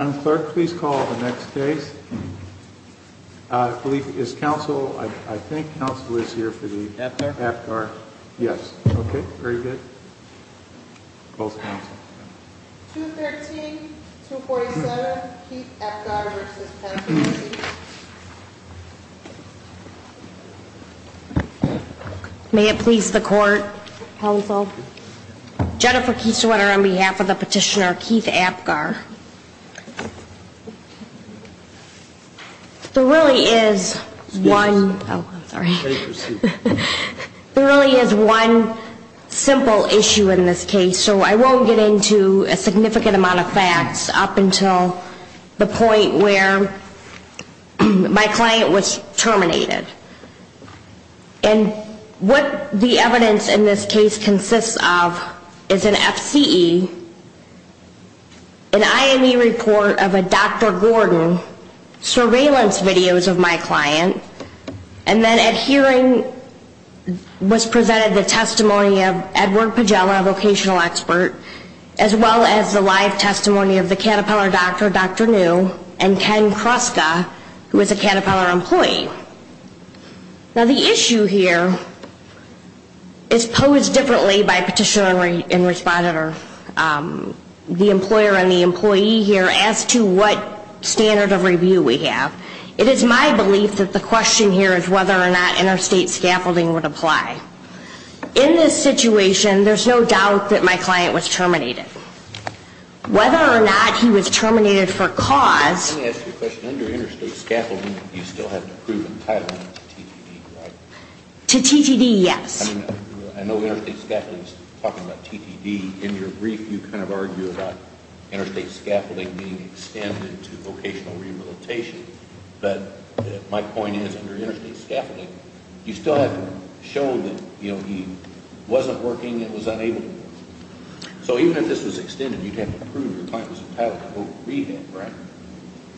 Clerk, please call the next case. I believe, is counsel, I think counsel is here for the... Epgar? Epgar, yes. Okay, very good. Calls the counsel. 213-247, Keith Epgar v. Penfold, Inc. May it please the court, counsel. Jennifer Kieserwetter on behalf of the petitioner, Keith Epgar. There really is one, oh, sorry, there really is one simple issue in this case. So I won't get into a significant amount of facts up until the point where my client was terminated. And what the evidence in this case consists of is an FCE, an IME report of a Dr. Gordon, surveillance videos of my client, and then at hearing was presented the testimony of Edward Pagela, a vocational expert, as well as the live testimony of the Caterpillar doctor, Dr. New, and Ken Kruska, who is a Caterpillar employee. Now the issue here is posed differently by petitioner and respondent, or the employer and the employee here, as to what standard of review we have. It is my belief that the question here is whether or not interstate scaffolding would apply. In this situation, there's no doubt that my client was terminated. Whether or not he was terminated for cause... Let me ask you a question. Under interstate scaffolding, you still have to prove entitlement to TTD, right? To TTD, yes. I know interstate scaffolding is talking about TTD. In your brief, you kind of argue about interstate scaffolding being extended to vocational rehabilitation. But my point is, under interstate scaffolding, you still have to show that he wasn't working and was unable to work. So even if this was extended, you'd have to prove your client was entitled to voc rehab, right?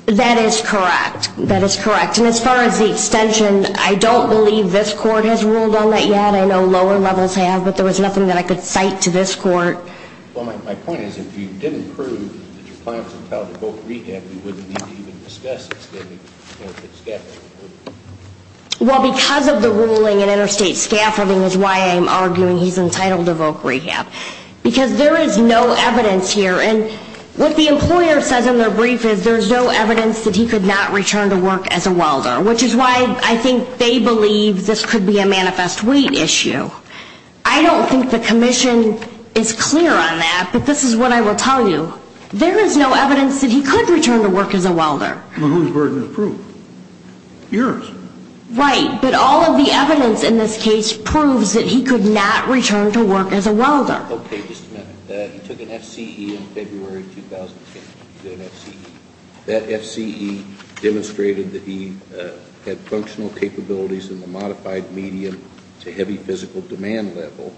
That is correct. That is correct. And as far as the extension, I don't believe this court has ruled on that yet. I know lower levels have, but there was nothing that I could cite to this court. Well, my point is, if you didn't prove that your client was entitled to voc rehab, you wouldn't need to even discuss extending the benefit scaffolding. Well, because of the ruling in interstate scaffolding is why I'm arguing he's entitled to voc rehab. Because there is no evidence here. And what the employer says in their brief is there's no evidence that he could not return to work as a welder, which is why I think they believe this could be a manifest weight issue. I don't think the commission is clear on that, but this is what I will tell you. There is no evidence that he could return to work as a welder. Well, whose burden of proof? Yours. Right. But all of the evidence in this case proves that he could not return to work as a welder. Okay, just a minute. He took an FCE in February of 2010. He did an FCE. That FCE demonstrated that he had functional capabilities in the modified medium to heavy physical demand level.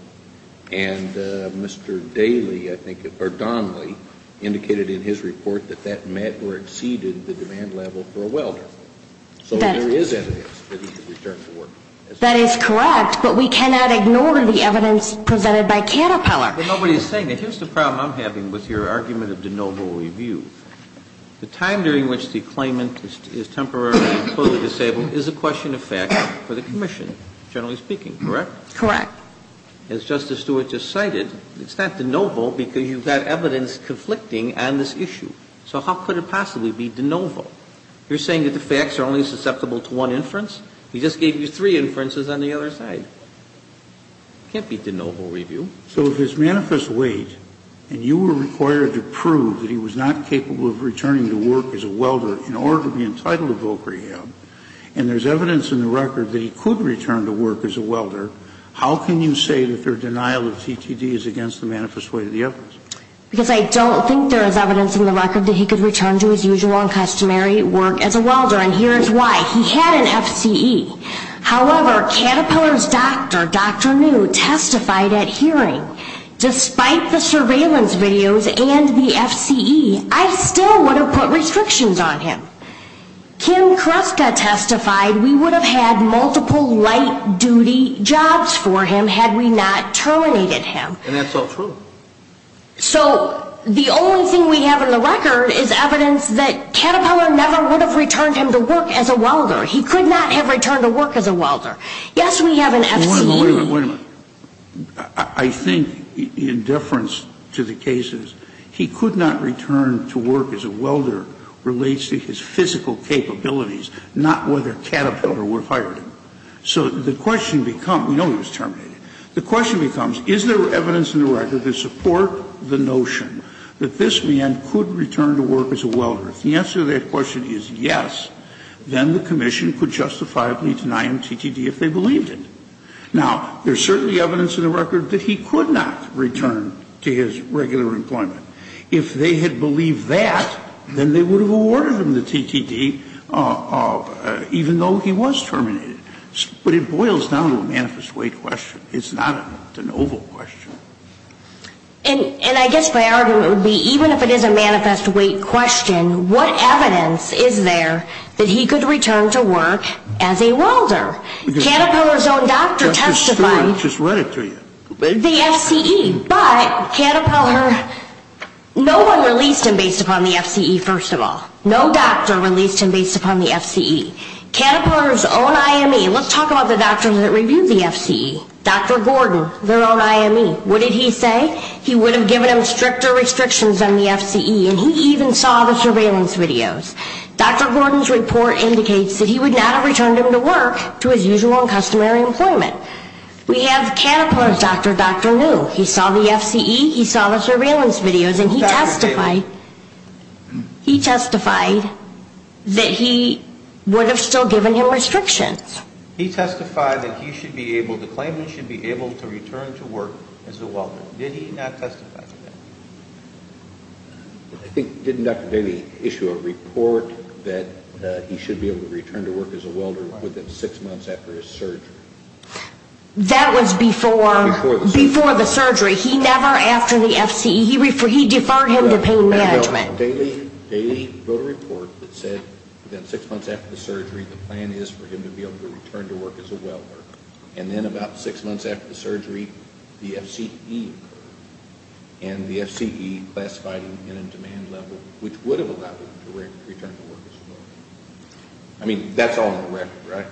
And Mr. Daly, I think, or Donley, indicated in his report that that met or exceeded the demand level for a welder. So there is evidence that he could return to work as a welder. That is correct, but we cannot ignore the evidence presented by Caterpillar. But nobody is saying that. Here's the problem I'm having with your argument of de novo review. The time during which the claimant is temporarily or totally disabled is a question of fact for the commission, generally speaking, correct? Correct. Now, as Justice Stewart just cited, it's not de novo because you've got evidence conflicting on this issue. So how could it possibly be de novo? You're saying that the facts are only susceptible to one inference? He just gave you three inferences on the other side. It can't be de novo review. So if his manifest weight and you were required to prove that he was not capable of returning to work as a welder in order to be entitled to voc rehab, and there's evidence in the record that he could return to work as a welder, how can you say that their denial of CTD is against the manifest weight of the evidence? Because I don't think there is evidence in the record that he could return to his usual and customary work as a welder. And here's why. He had an FCE. However, Caterpillar's doctor, Dr. New, testified at hearing, despite the surveillance videos and the FCE, I still would have put restrictions on him. Ken Kruska testified we would have had multiple light-duty jobs for him had we not terminated him. And that's all true. So the only thing we have in the record is evidence that Caterpillar never would have returned him to work as a welder. He could not have returned to work as a welder. Yes, we have an FCE. I think in deference to the cases, he could not return to work as a welder relates to his physical capabilities, not whether Caterpillar would have hired him. So the question becomes, we know he was terminated. The question becomes, is there evidence in the record to support the notion that this man could return to work as a welder? If the answer to that question is yes, then the commission could justifiably deny him TTD if they believed it. Now, there's certainly evidence in the record that he could not return to his regular employment. If they had believed that, then they would have awarded him the TTD, even though he was terminated. But it boils down to a manifest weight question. It's not an oval question. And I guess my argument would be, even if it is a manifest weight question, what evidence is there that he could return to work as a welder? Caterpillar's own doctor testified, the FCE. But Caterpillar, no one released him based upon the FCE, first of all. No doctor released him based upon the FCE. Caterpillar's own IME, let's talk about the doctors that reviewed the FCE. Dr. Gordon, their own IME, what did he say? He would have given him stricter restrictions on the FCE. And he even saw the surveillance videos. Dr. Gordon's report indicates that he would not have returned him to work to his usual and customary employment. We have Caterpillar's doctor, Dr. New. He saw the FCE. He saw the surveillance videos. And he testified that he would have still given him restrictions. He testified that he should be able to claim he should be able to return to work as a welder. Did he not testify to that? I think, didn't Dr. Daley issue a report that he should be able to return to work as a welder within six months after his surgery? That was before the surgery. He never, after the FCE, he deferred him to pain management. Daley wrote a report that said that six months after the surgery, the plan is for him to be able to return to work as a welder. And then about six months after the surgery, the FCE occurred. And the FCE classified him in a demand level, which would have allowed him to return to work as a welder. I mean, that's all in the record, right?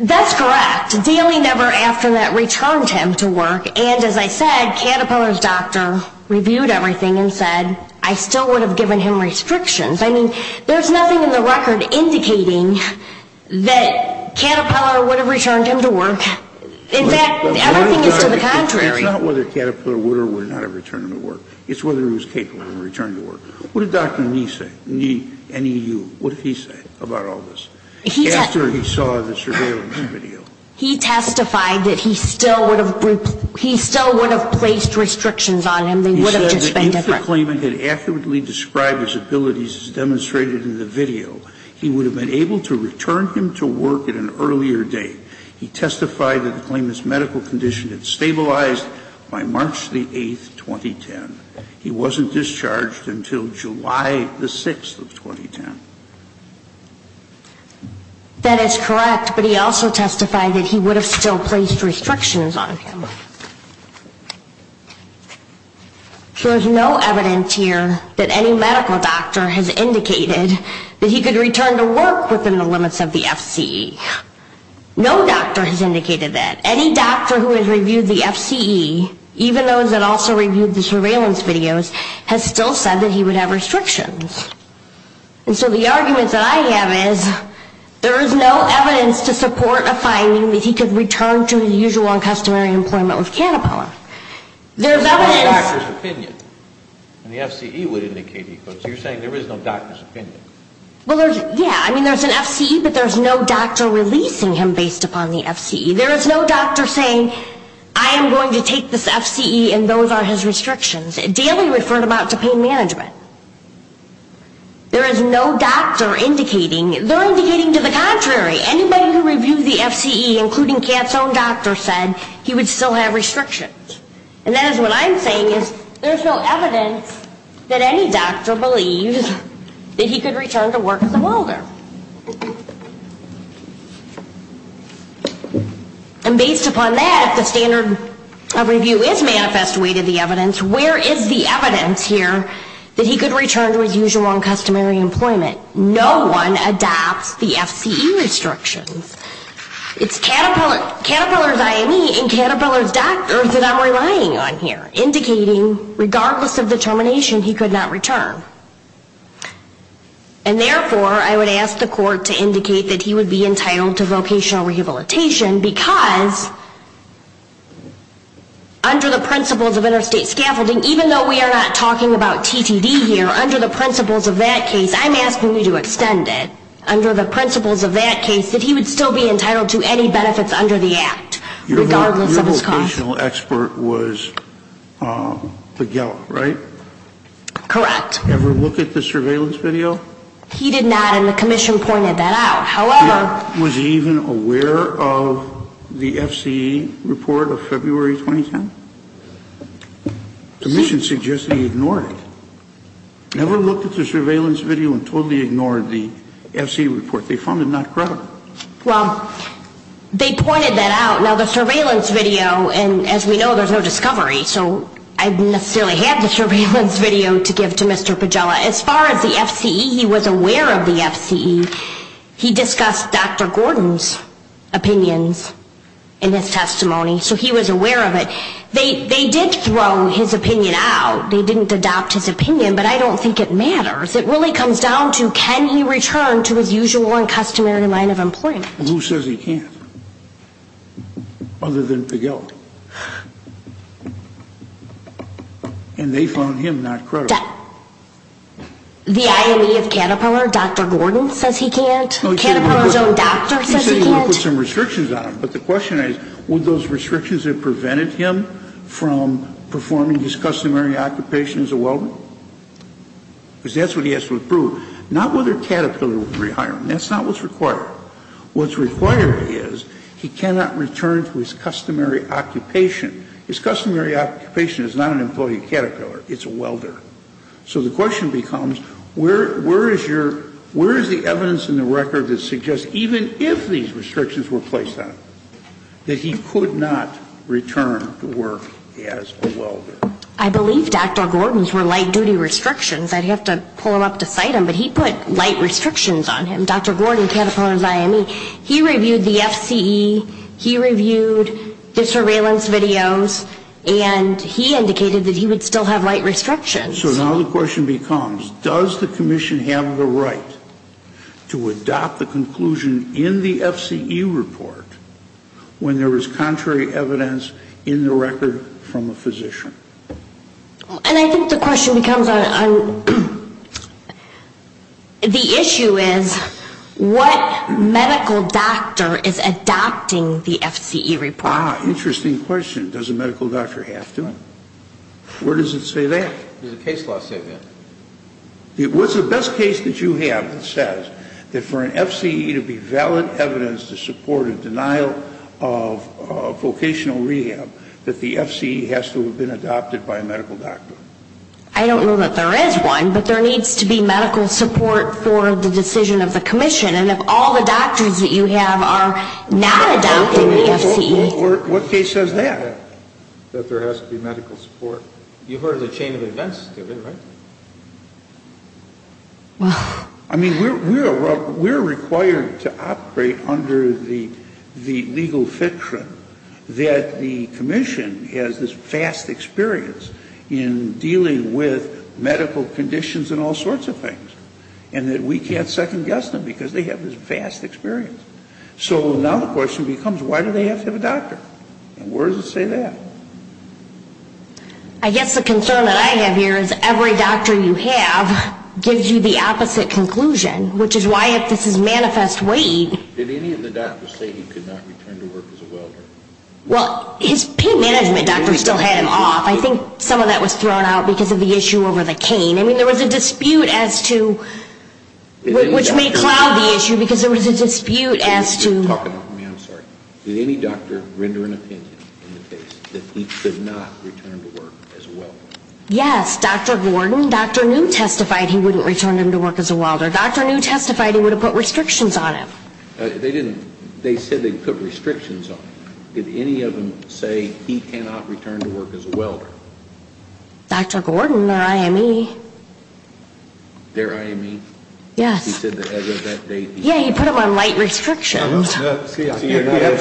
That's correct. Daley never after that returned him to work. And as I said, Caterpillar's doctor reviewed everything and said, I still would have given him restrictions. I mean, there's nothing in the record indicating that Caterpillar would have returned him to work. In fact, everything is to the contrary. It's not whether Caterpillar would or would not have returned him to work. It's whether he was capable of returning to work. What did Dr. Nee say? Nee, N-E-E-U. What did he say about all this? After he saw the surveillance video. He testified that he still would have placed restrictions on him. They would have just been different. He said that if the claimant had accurately described his abilities as demonstrated in the video, he would have been able to return him to work at an earlier date. He testified that the claimant's medical condition had stabilized by March 8, 2010. He wasn't discharged until July 6, 2010. That is correct. But he also testified that he would have still placed restrictions on him. So there's no evidence here that any medical doctor has indicated that he could return to work within the limits of the FCE. No doctor has indicated that. Any doctor who has reviewed the FCE, even those that also reviewed the surveillance videos, has still said that he would have restrictions. And so the argument that I have is there is no evidence to support a finding that he could return to his usual and customary employment with cannabis. There's evidence. There's no doctor's opinion. And the FCE would indicate he could. So you're saying there is no doctor's opinion. Well, yeah. I mean, there's an FCE, but there's no doctor releasing him based upon the FCE. There is no doctor saying, I am going to take this FCE and those are his restrictions. Daily referred about to pain management. There is no doctor indicating. They're indicating to the contrary. Anybody who reviewed the FCE, including Kat's own doctor, said he would still have restrictions. And that is what I'm saying is there's no evidence that any doctor believes that he could return to work as a molder. And based upon that, the standard of review is manifest way to the evidence. Where is the evidence here that he could return to his usual and customary employment? No one adopts the FCE restrictions. It's Caterpillar's IME and Caterpillar's doctors that I'm relying on here, indicating regardless of the termination, he could not return. And therefore, I would ask the court to indicate that he would be entitled to vocational rehabilitation because under the principles of interstate scaffolding, even though we are not talking about TTD here, under the principles of that case, I'm asking you to extend it, under the principles of that case, that he would still be entitled to any benefits under the act, regardless of his cost. Your vocational expert was Figueroa, right? Correct. Did he ever look at the surveillance video? He did not. And the commission pointed that out. However, was he even aware of the FCE report of February 2010? The commission suggested he ignored it. Never looked at the surveillance video and totally ignored the FCE report. They found it not credible. Well, they pointed that out. Now, the surveillance video, and as we know, there's no discovery, so I didn't necessarily have the surveillance video to give to Mr. Pagella. As far as the FCE, he was aware of the FCE. He discussed Dr. Gordon's opinions in his testimony, so he was aware of it. They did throw his opinion out. They didn't adopt his opinion, but I don't think it matters. It really comes down to can he return to his usual and customary line of employment. Well, who says he can't? Other than Pagella. And they found him not credible. The IME of Caterpillar, Dr. Gordon, says he can't? Caterpillar's own doctor says he can't? He said he would put some restrictions on him, but the question is, would those restrictions have prevented him from performing his customary occupation as a welder? Because that's what he has to approve. Not whether Caterpillar would rehire him. That's not what's required. What's required is he cannot return to his customary occupation. His customary occupation is not an employee at Caterpillar. It's a welder. So the question becomes, where is your, where is the evidence in the record that suggests even if these restrictions were placed on him, that he could not return to work as a welder? I believe Dr. Gordon's were light-duty restrictions. I'd have to pull him up to cite him, but he put light restrictions on him. Dr. Gordon, Caterpillar's IME, he reviewed the FCE, he reviewed the surveillance videos, and he indicated that he would still have light restrictions. So now the question becomes, does the commission have the right to adopt the conclusion in the FCE report when there is contrary evidence in the record from a physician? And I think the question becomes, the issue is, what medical doctor is adopting the FCE report? Ah, interesting question. Does a medical doctor have to? Where does it say that? Where does the case law say that? What's the best case that you have that says that for an FCE to be valid evidence to support a denial of vocational rehab, that the FCE has to have been adopted by a medical doctor? I don't know that there is one, but there needs to be medical support for the decision of the commission. And if all the doctors that you have are not adopting the FCE... What case says that, that there has to be medical support? You've heard of the chain of events of it, right? Well... I mean, we're required to operate under the legal fiction that the commission has this vast experience in dealing with medical conditions and all sorts of things, and that we can't second guess them because they have this vast experience. So now the question becomes, why do they have to have a doctor? And where does it say that? I guess the concern that I have here is every doctor you have gives you the opposite conclusion, which is why if this is manifest weight... Did any of the doctors say he could not return to work as a welder? Well, his pain management doctor still had him off. I think some of that was thrown out because of the issue over the cane. I mean, there was a dispute as to... Which may cloud the issue because there was a dispute as to... Did any doctor render an opinion in the case that he could not return to work as a welder? Yes, Dr. Gordon. Dr. New testified he wouldn't return him to work as a welder. Dr. New testified he would have put restrictions on him. They didn't. They said they put restrictions on him. Did any of them say he cannot return to work as a welder? Dr. Gordon, their IME. Their IME? Yes. He said that as of that date... Yes, he put him on light restrictions. You have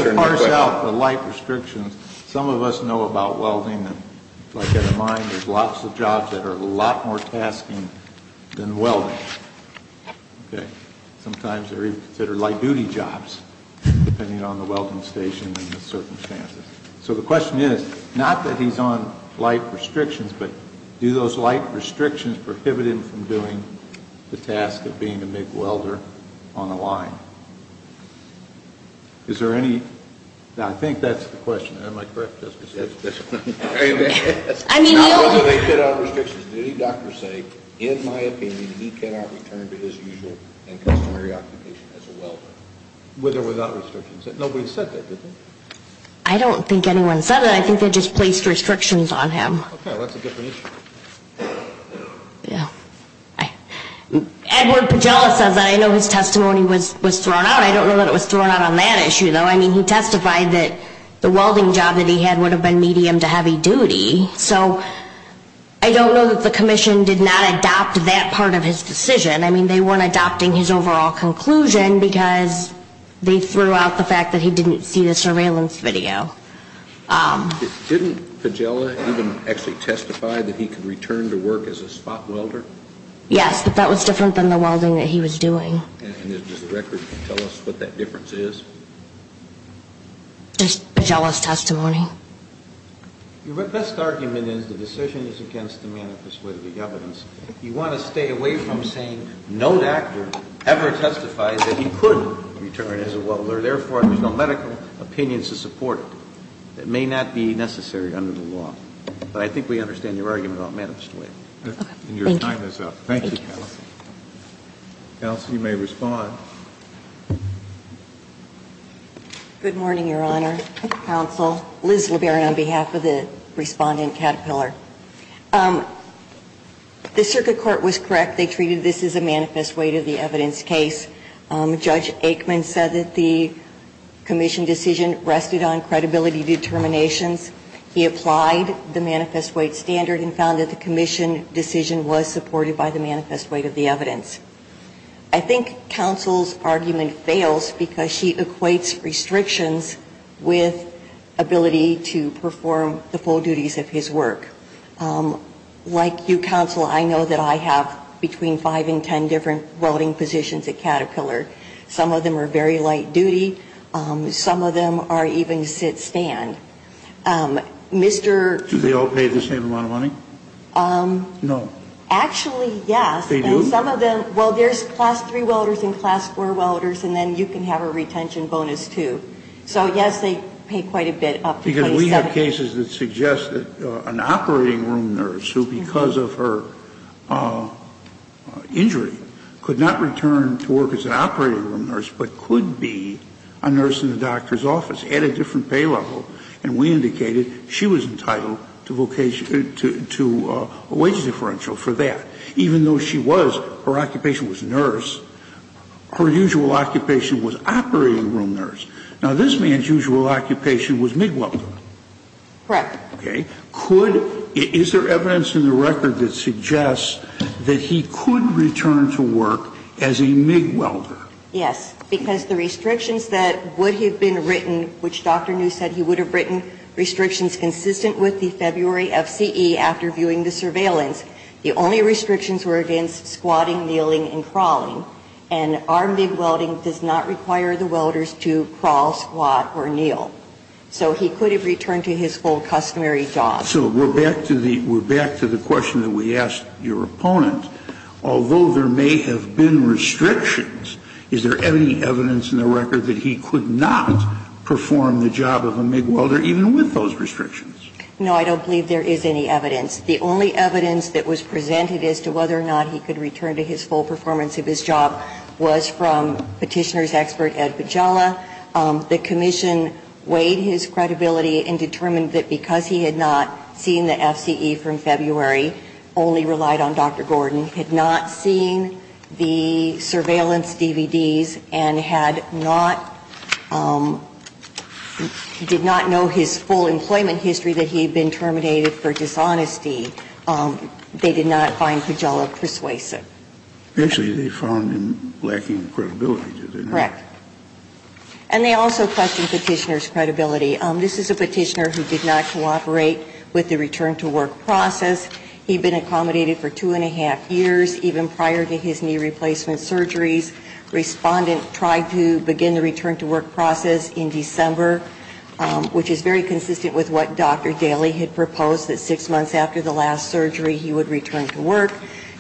to parse out the light restrictions. Some of us know about welding. If I've got it in mind, there's lots of jobs that are a lot more tasking than welding. Sometimes they're even considered light-duty jobs, depending on the welding station and the circumstances. So the question is, not that he's on light restrictions, but do those light restrictions prohibit him from doing the task of being a MIG welder on the line? Is there any... Now, I think that's the question. Am I correct, Justice? That's the question. Not whether they put out restrictions. Did any doctor say, in my opinion, he cannot return to his usual and customary occupation as a welder? With or without restrictions. Nobody said that, did they? I don't think anyone said that. I think they just placed restrictions on him. Okay, well, that's a different issue. Edward Pagela says that. I know his testimony was thrown out. I don't know that it was thrown out on that issue, though. I mean, he testified that the welding job that he had would have been medium to heavy duty. So I don't know that the Commission did not adopt that part of his decision. I mean, they weren't adopting his overall conclusion because they threw out the fact that he didn't see the surveillance video. Didn't Pagela even actually testify that he could return to work as a spot welder? Yes, but that was different than the welding that he was doing. And does the record tell us what that difference is? Just Pagela's testimony. Your best argument is the decision is against the manifest way of the evidence. You want to stay away from saying no doctor ever testified that he could return as a welder, therefore, there's no medical opinions to support it. It may not be necessary under the law. But I think we understand your argument about manifest way. And your time is up. Thank you. Counsel, you may respond. Good morning, Your Honor, counsel. Liz LeBaron on behalf of the respondent, Caterpillar. The circuit court was correct. They treated this as a manifest way to the evidence case. Judge Aikman said that the commission decision rested on credibility determinations. He applied the manifest way standard and found that the commission decision was supported by the manifest way of the evidence. I think counsel's argument fails because she equates restrictions with ability to perform the full duties of his work. Like you, counsel, I know that I have between five and ten different welding positions at Caterpillar. Some of them are very light duty. Some of them are even sit stand. Do they all pay the same amount of money? No. Actually, yes. They do? Well, there's class three welders and class four welders, and then you can have a retention bonus, too. So, yes, they pay quite a bit up to 27. Because we have cases that suggest that an operating room nurse who, because of her injury, could not return to work as an operating room nurse, but could be a nurse in the doctor's office at a different pay level. And we indicated she was entitled to a wage differential for that. Even though she was, her occupation was nurse, her usual occupation was operating room nurse. Now, this man's usual occupation was MIG welder. Correct. Okay. Is there evidence in the record that suggests that he could return to work as a MIG welder? Yes. Because the restrictions that would have been written, which Dr. New said he would have written, restrictions consistent with the February FCE after viewing the surveillance, the only restrictions were against squatting, kneeling, and crawling. And our MIG welding does not require the welders to crawl, squat, or kneel. So he could have returned to his full customary job. So we're back to the question that we asked your opponent. Although there may have been restrictions, is there any evidence in the record that he could not perform the job of a MIG welder even with those restrictions? No, I don't believe there is any evidence. The only evidence that was presented as to whether or not he could return to his full performance of his job was from petitioner's expert Ed Pagella. The commission weighed his credibility and determined that because he had not seen the FCE from February, only relied on Dr. Gordon, had not seen the surveillance DVDs, and had not, did not know his full employment history, that he had been terminated for dishonesty, they did not find Pagella persuasive. Actually, they found him lacking credibility. Correct. And they also questioned petitioner's credibility. This is a petitioner who did not cooperate with the return-to-work process. He had been accommodated for two and a half years, even prior to his knee replacement surgeries. Respondent tried to begin the return-to-work process in December, which is very consistent with what Dr. Daly had proposed, that six months after the last surgery, he would return to work.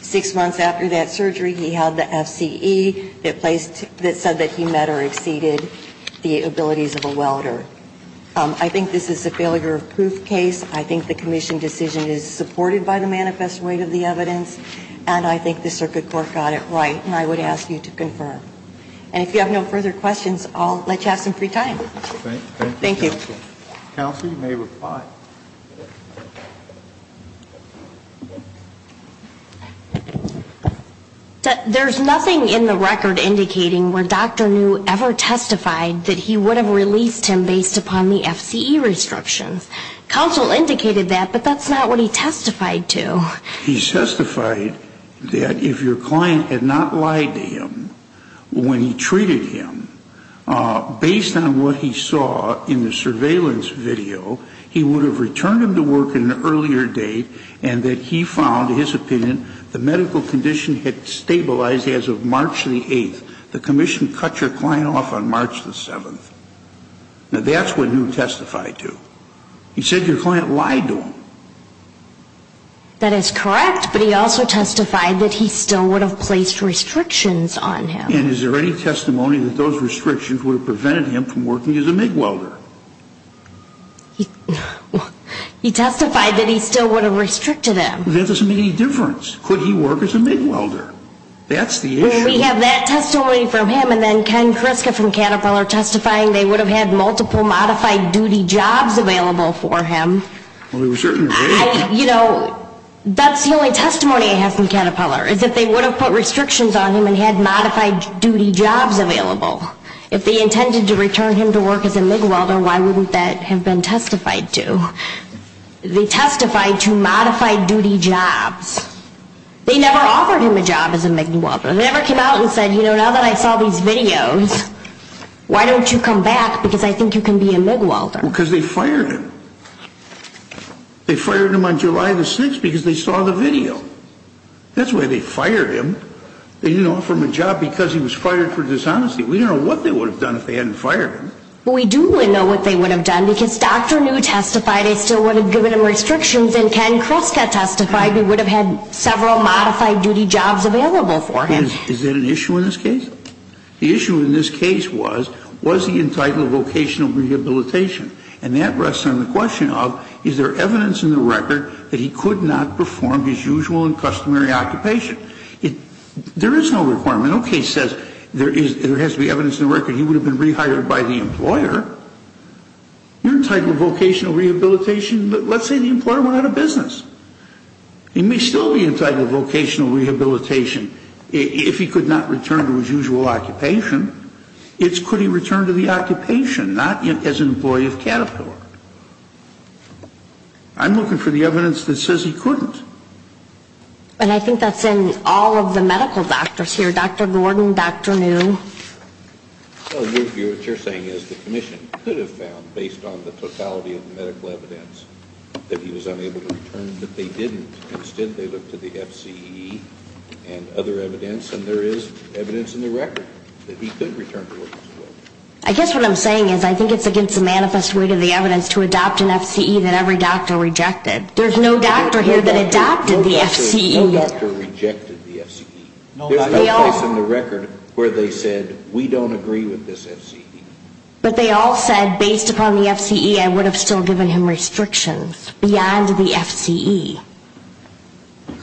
Six months after that surgery, he had the FCE that said that he met or exceeded the abilities of a welder. I think this is a failure of proof case. I think the commission decision is supported by the manifest weight of the evidence, and I think the circuit court got it right, and I would ask you to confirm. And if you have no further questions, I'll let you have some free time. Thank you. Counsel, you may reply. There's nothing in the record indicating where Dr. New ever testified that he would have released him based upon the FCE restrictions. Counsel indicated that, but that's not what he testified to. He testified that if your client had not lied to him when he treated him, based on what he saw in the surveillance video, he would have returned him to work at an earlier date and that he found, in his opinion, the medical condition had stabilized as of March the 8th. The commission cut your client off on March the 7th. Now, that's what New testified to. He said your client lied to him. That is correct, but he also testified that he still would have placed restrictions on him. And is there any testimony that those restrictions would have prevented him from working as a MIG welder? He testified that he still would have restricted him. That doesn't make any difference. Could he work as a MIG welder? That's the issue. Well, we have that testimony from him, and then Ken Kriska from Caterpillar testifying they would have had multiple modified duty jobs available for him. You know, that's the only testimony I have from Caterpillar, is that they would have put restrictions on him and had modified duty jobs available. If they intended to return him to work as a MIG welder, why wouldn't that have been testified to? They testified to modified duty jobs. They never offered him a job as a MIG welder. They never came out and said, you know, now that I saw these videos, why don't you come back because I think you can be a MIG welder. Because they fired him. They fired him on July the 6th because they saw the video. That's why they fired him. They didn't offer him a job because he was fired for dishonesty. We don't know what they would have done if they hadn't fired him. We do know what they would have done because Dr. New testified they still would have given him restrictions, and Ken Kriska testified they would have had several modified duty jobs available for him. Is that an issue in this case? The issue in this case was, was he entitled to vocational rehabilitation? And that rests on the question of, is there evidence in the record that he could not perform his usual and customary occupation? There is no requirement. No case says there has to be evidence in the record he would have been rehired by the employer. You're entitled to vocational rehabilitation. Let's say the employer went out of business. He may still be entitled to vocational rehabilitation if he could not return to his usual occupation. It's could he return to the occupation, not as an employee of Caterpillar. I'm looking for the evidence that says he couldn't. And I think that's in all of the medical doctors here, Dr. Gordon, Dr. New. What you're saying is the commission could have found, based on the totality of the medical evidence, that he was unable to return, but they didn't. Instead, they looked at the FCE and other evidence, and there is evidence in the record that he could return to work. I guess what I'm saying is I think it's against the manifest weight of the evidence to adopt an FCE that every doctor rejected. There's no doctor here that adopted the FCE. No doctor rejected the FCE. There's no place in the record where they said, we don't agree with this FCE. But they all said, based upon the FCE, I would have still given him restrictions beyond the FCE.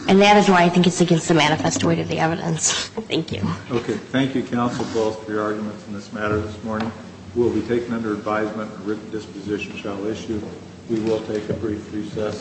And that is why I think it's against the manifest weight of the evidence. Thank you. Okay. Thank you, counsel, for all of your arguments in this matter this morning. We'll be taking under advisement a written disposition shall issue. We will take a brief recess.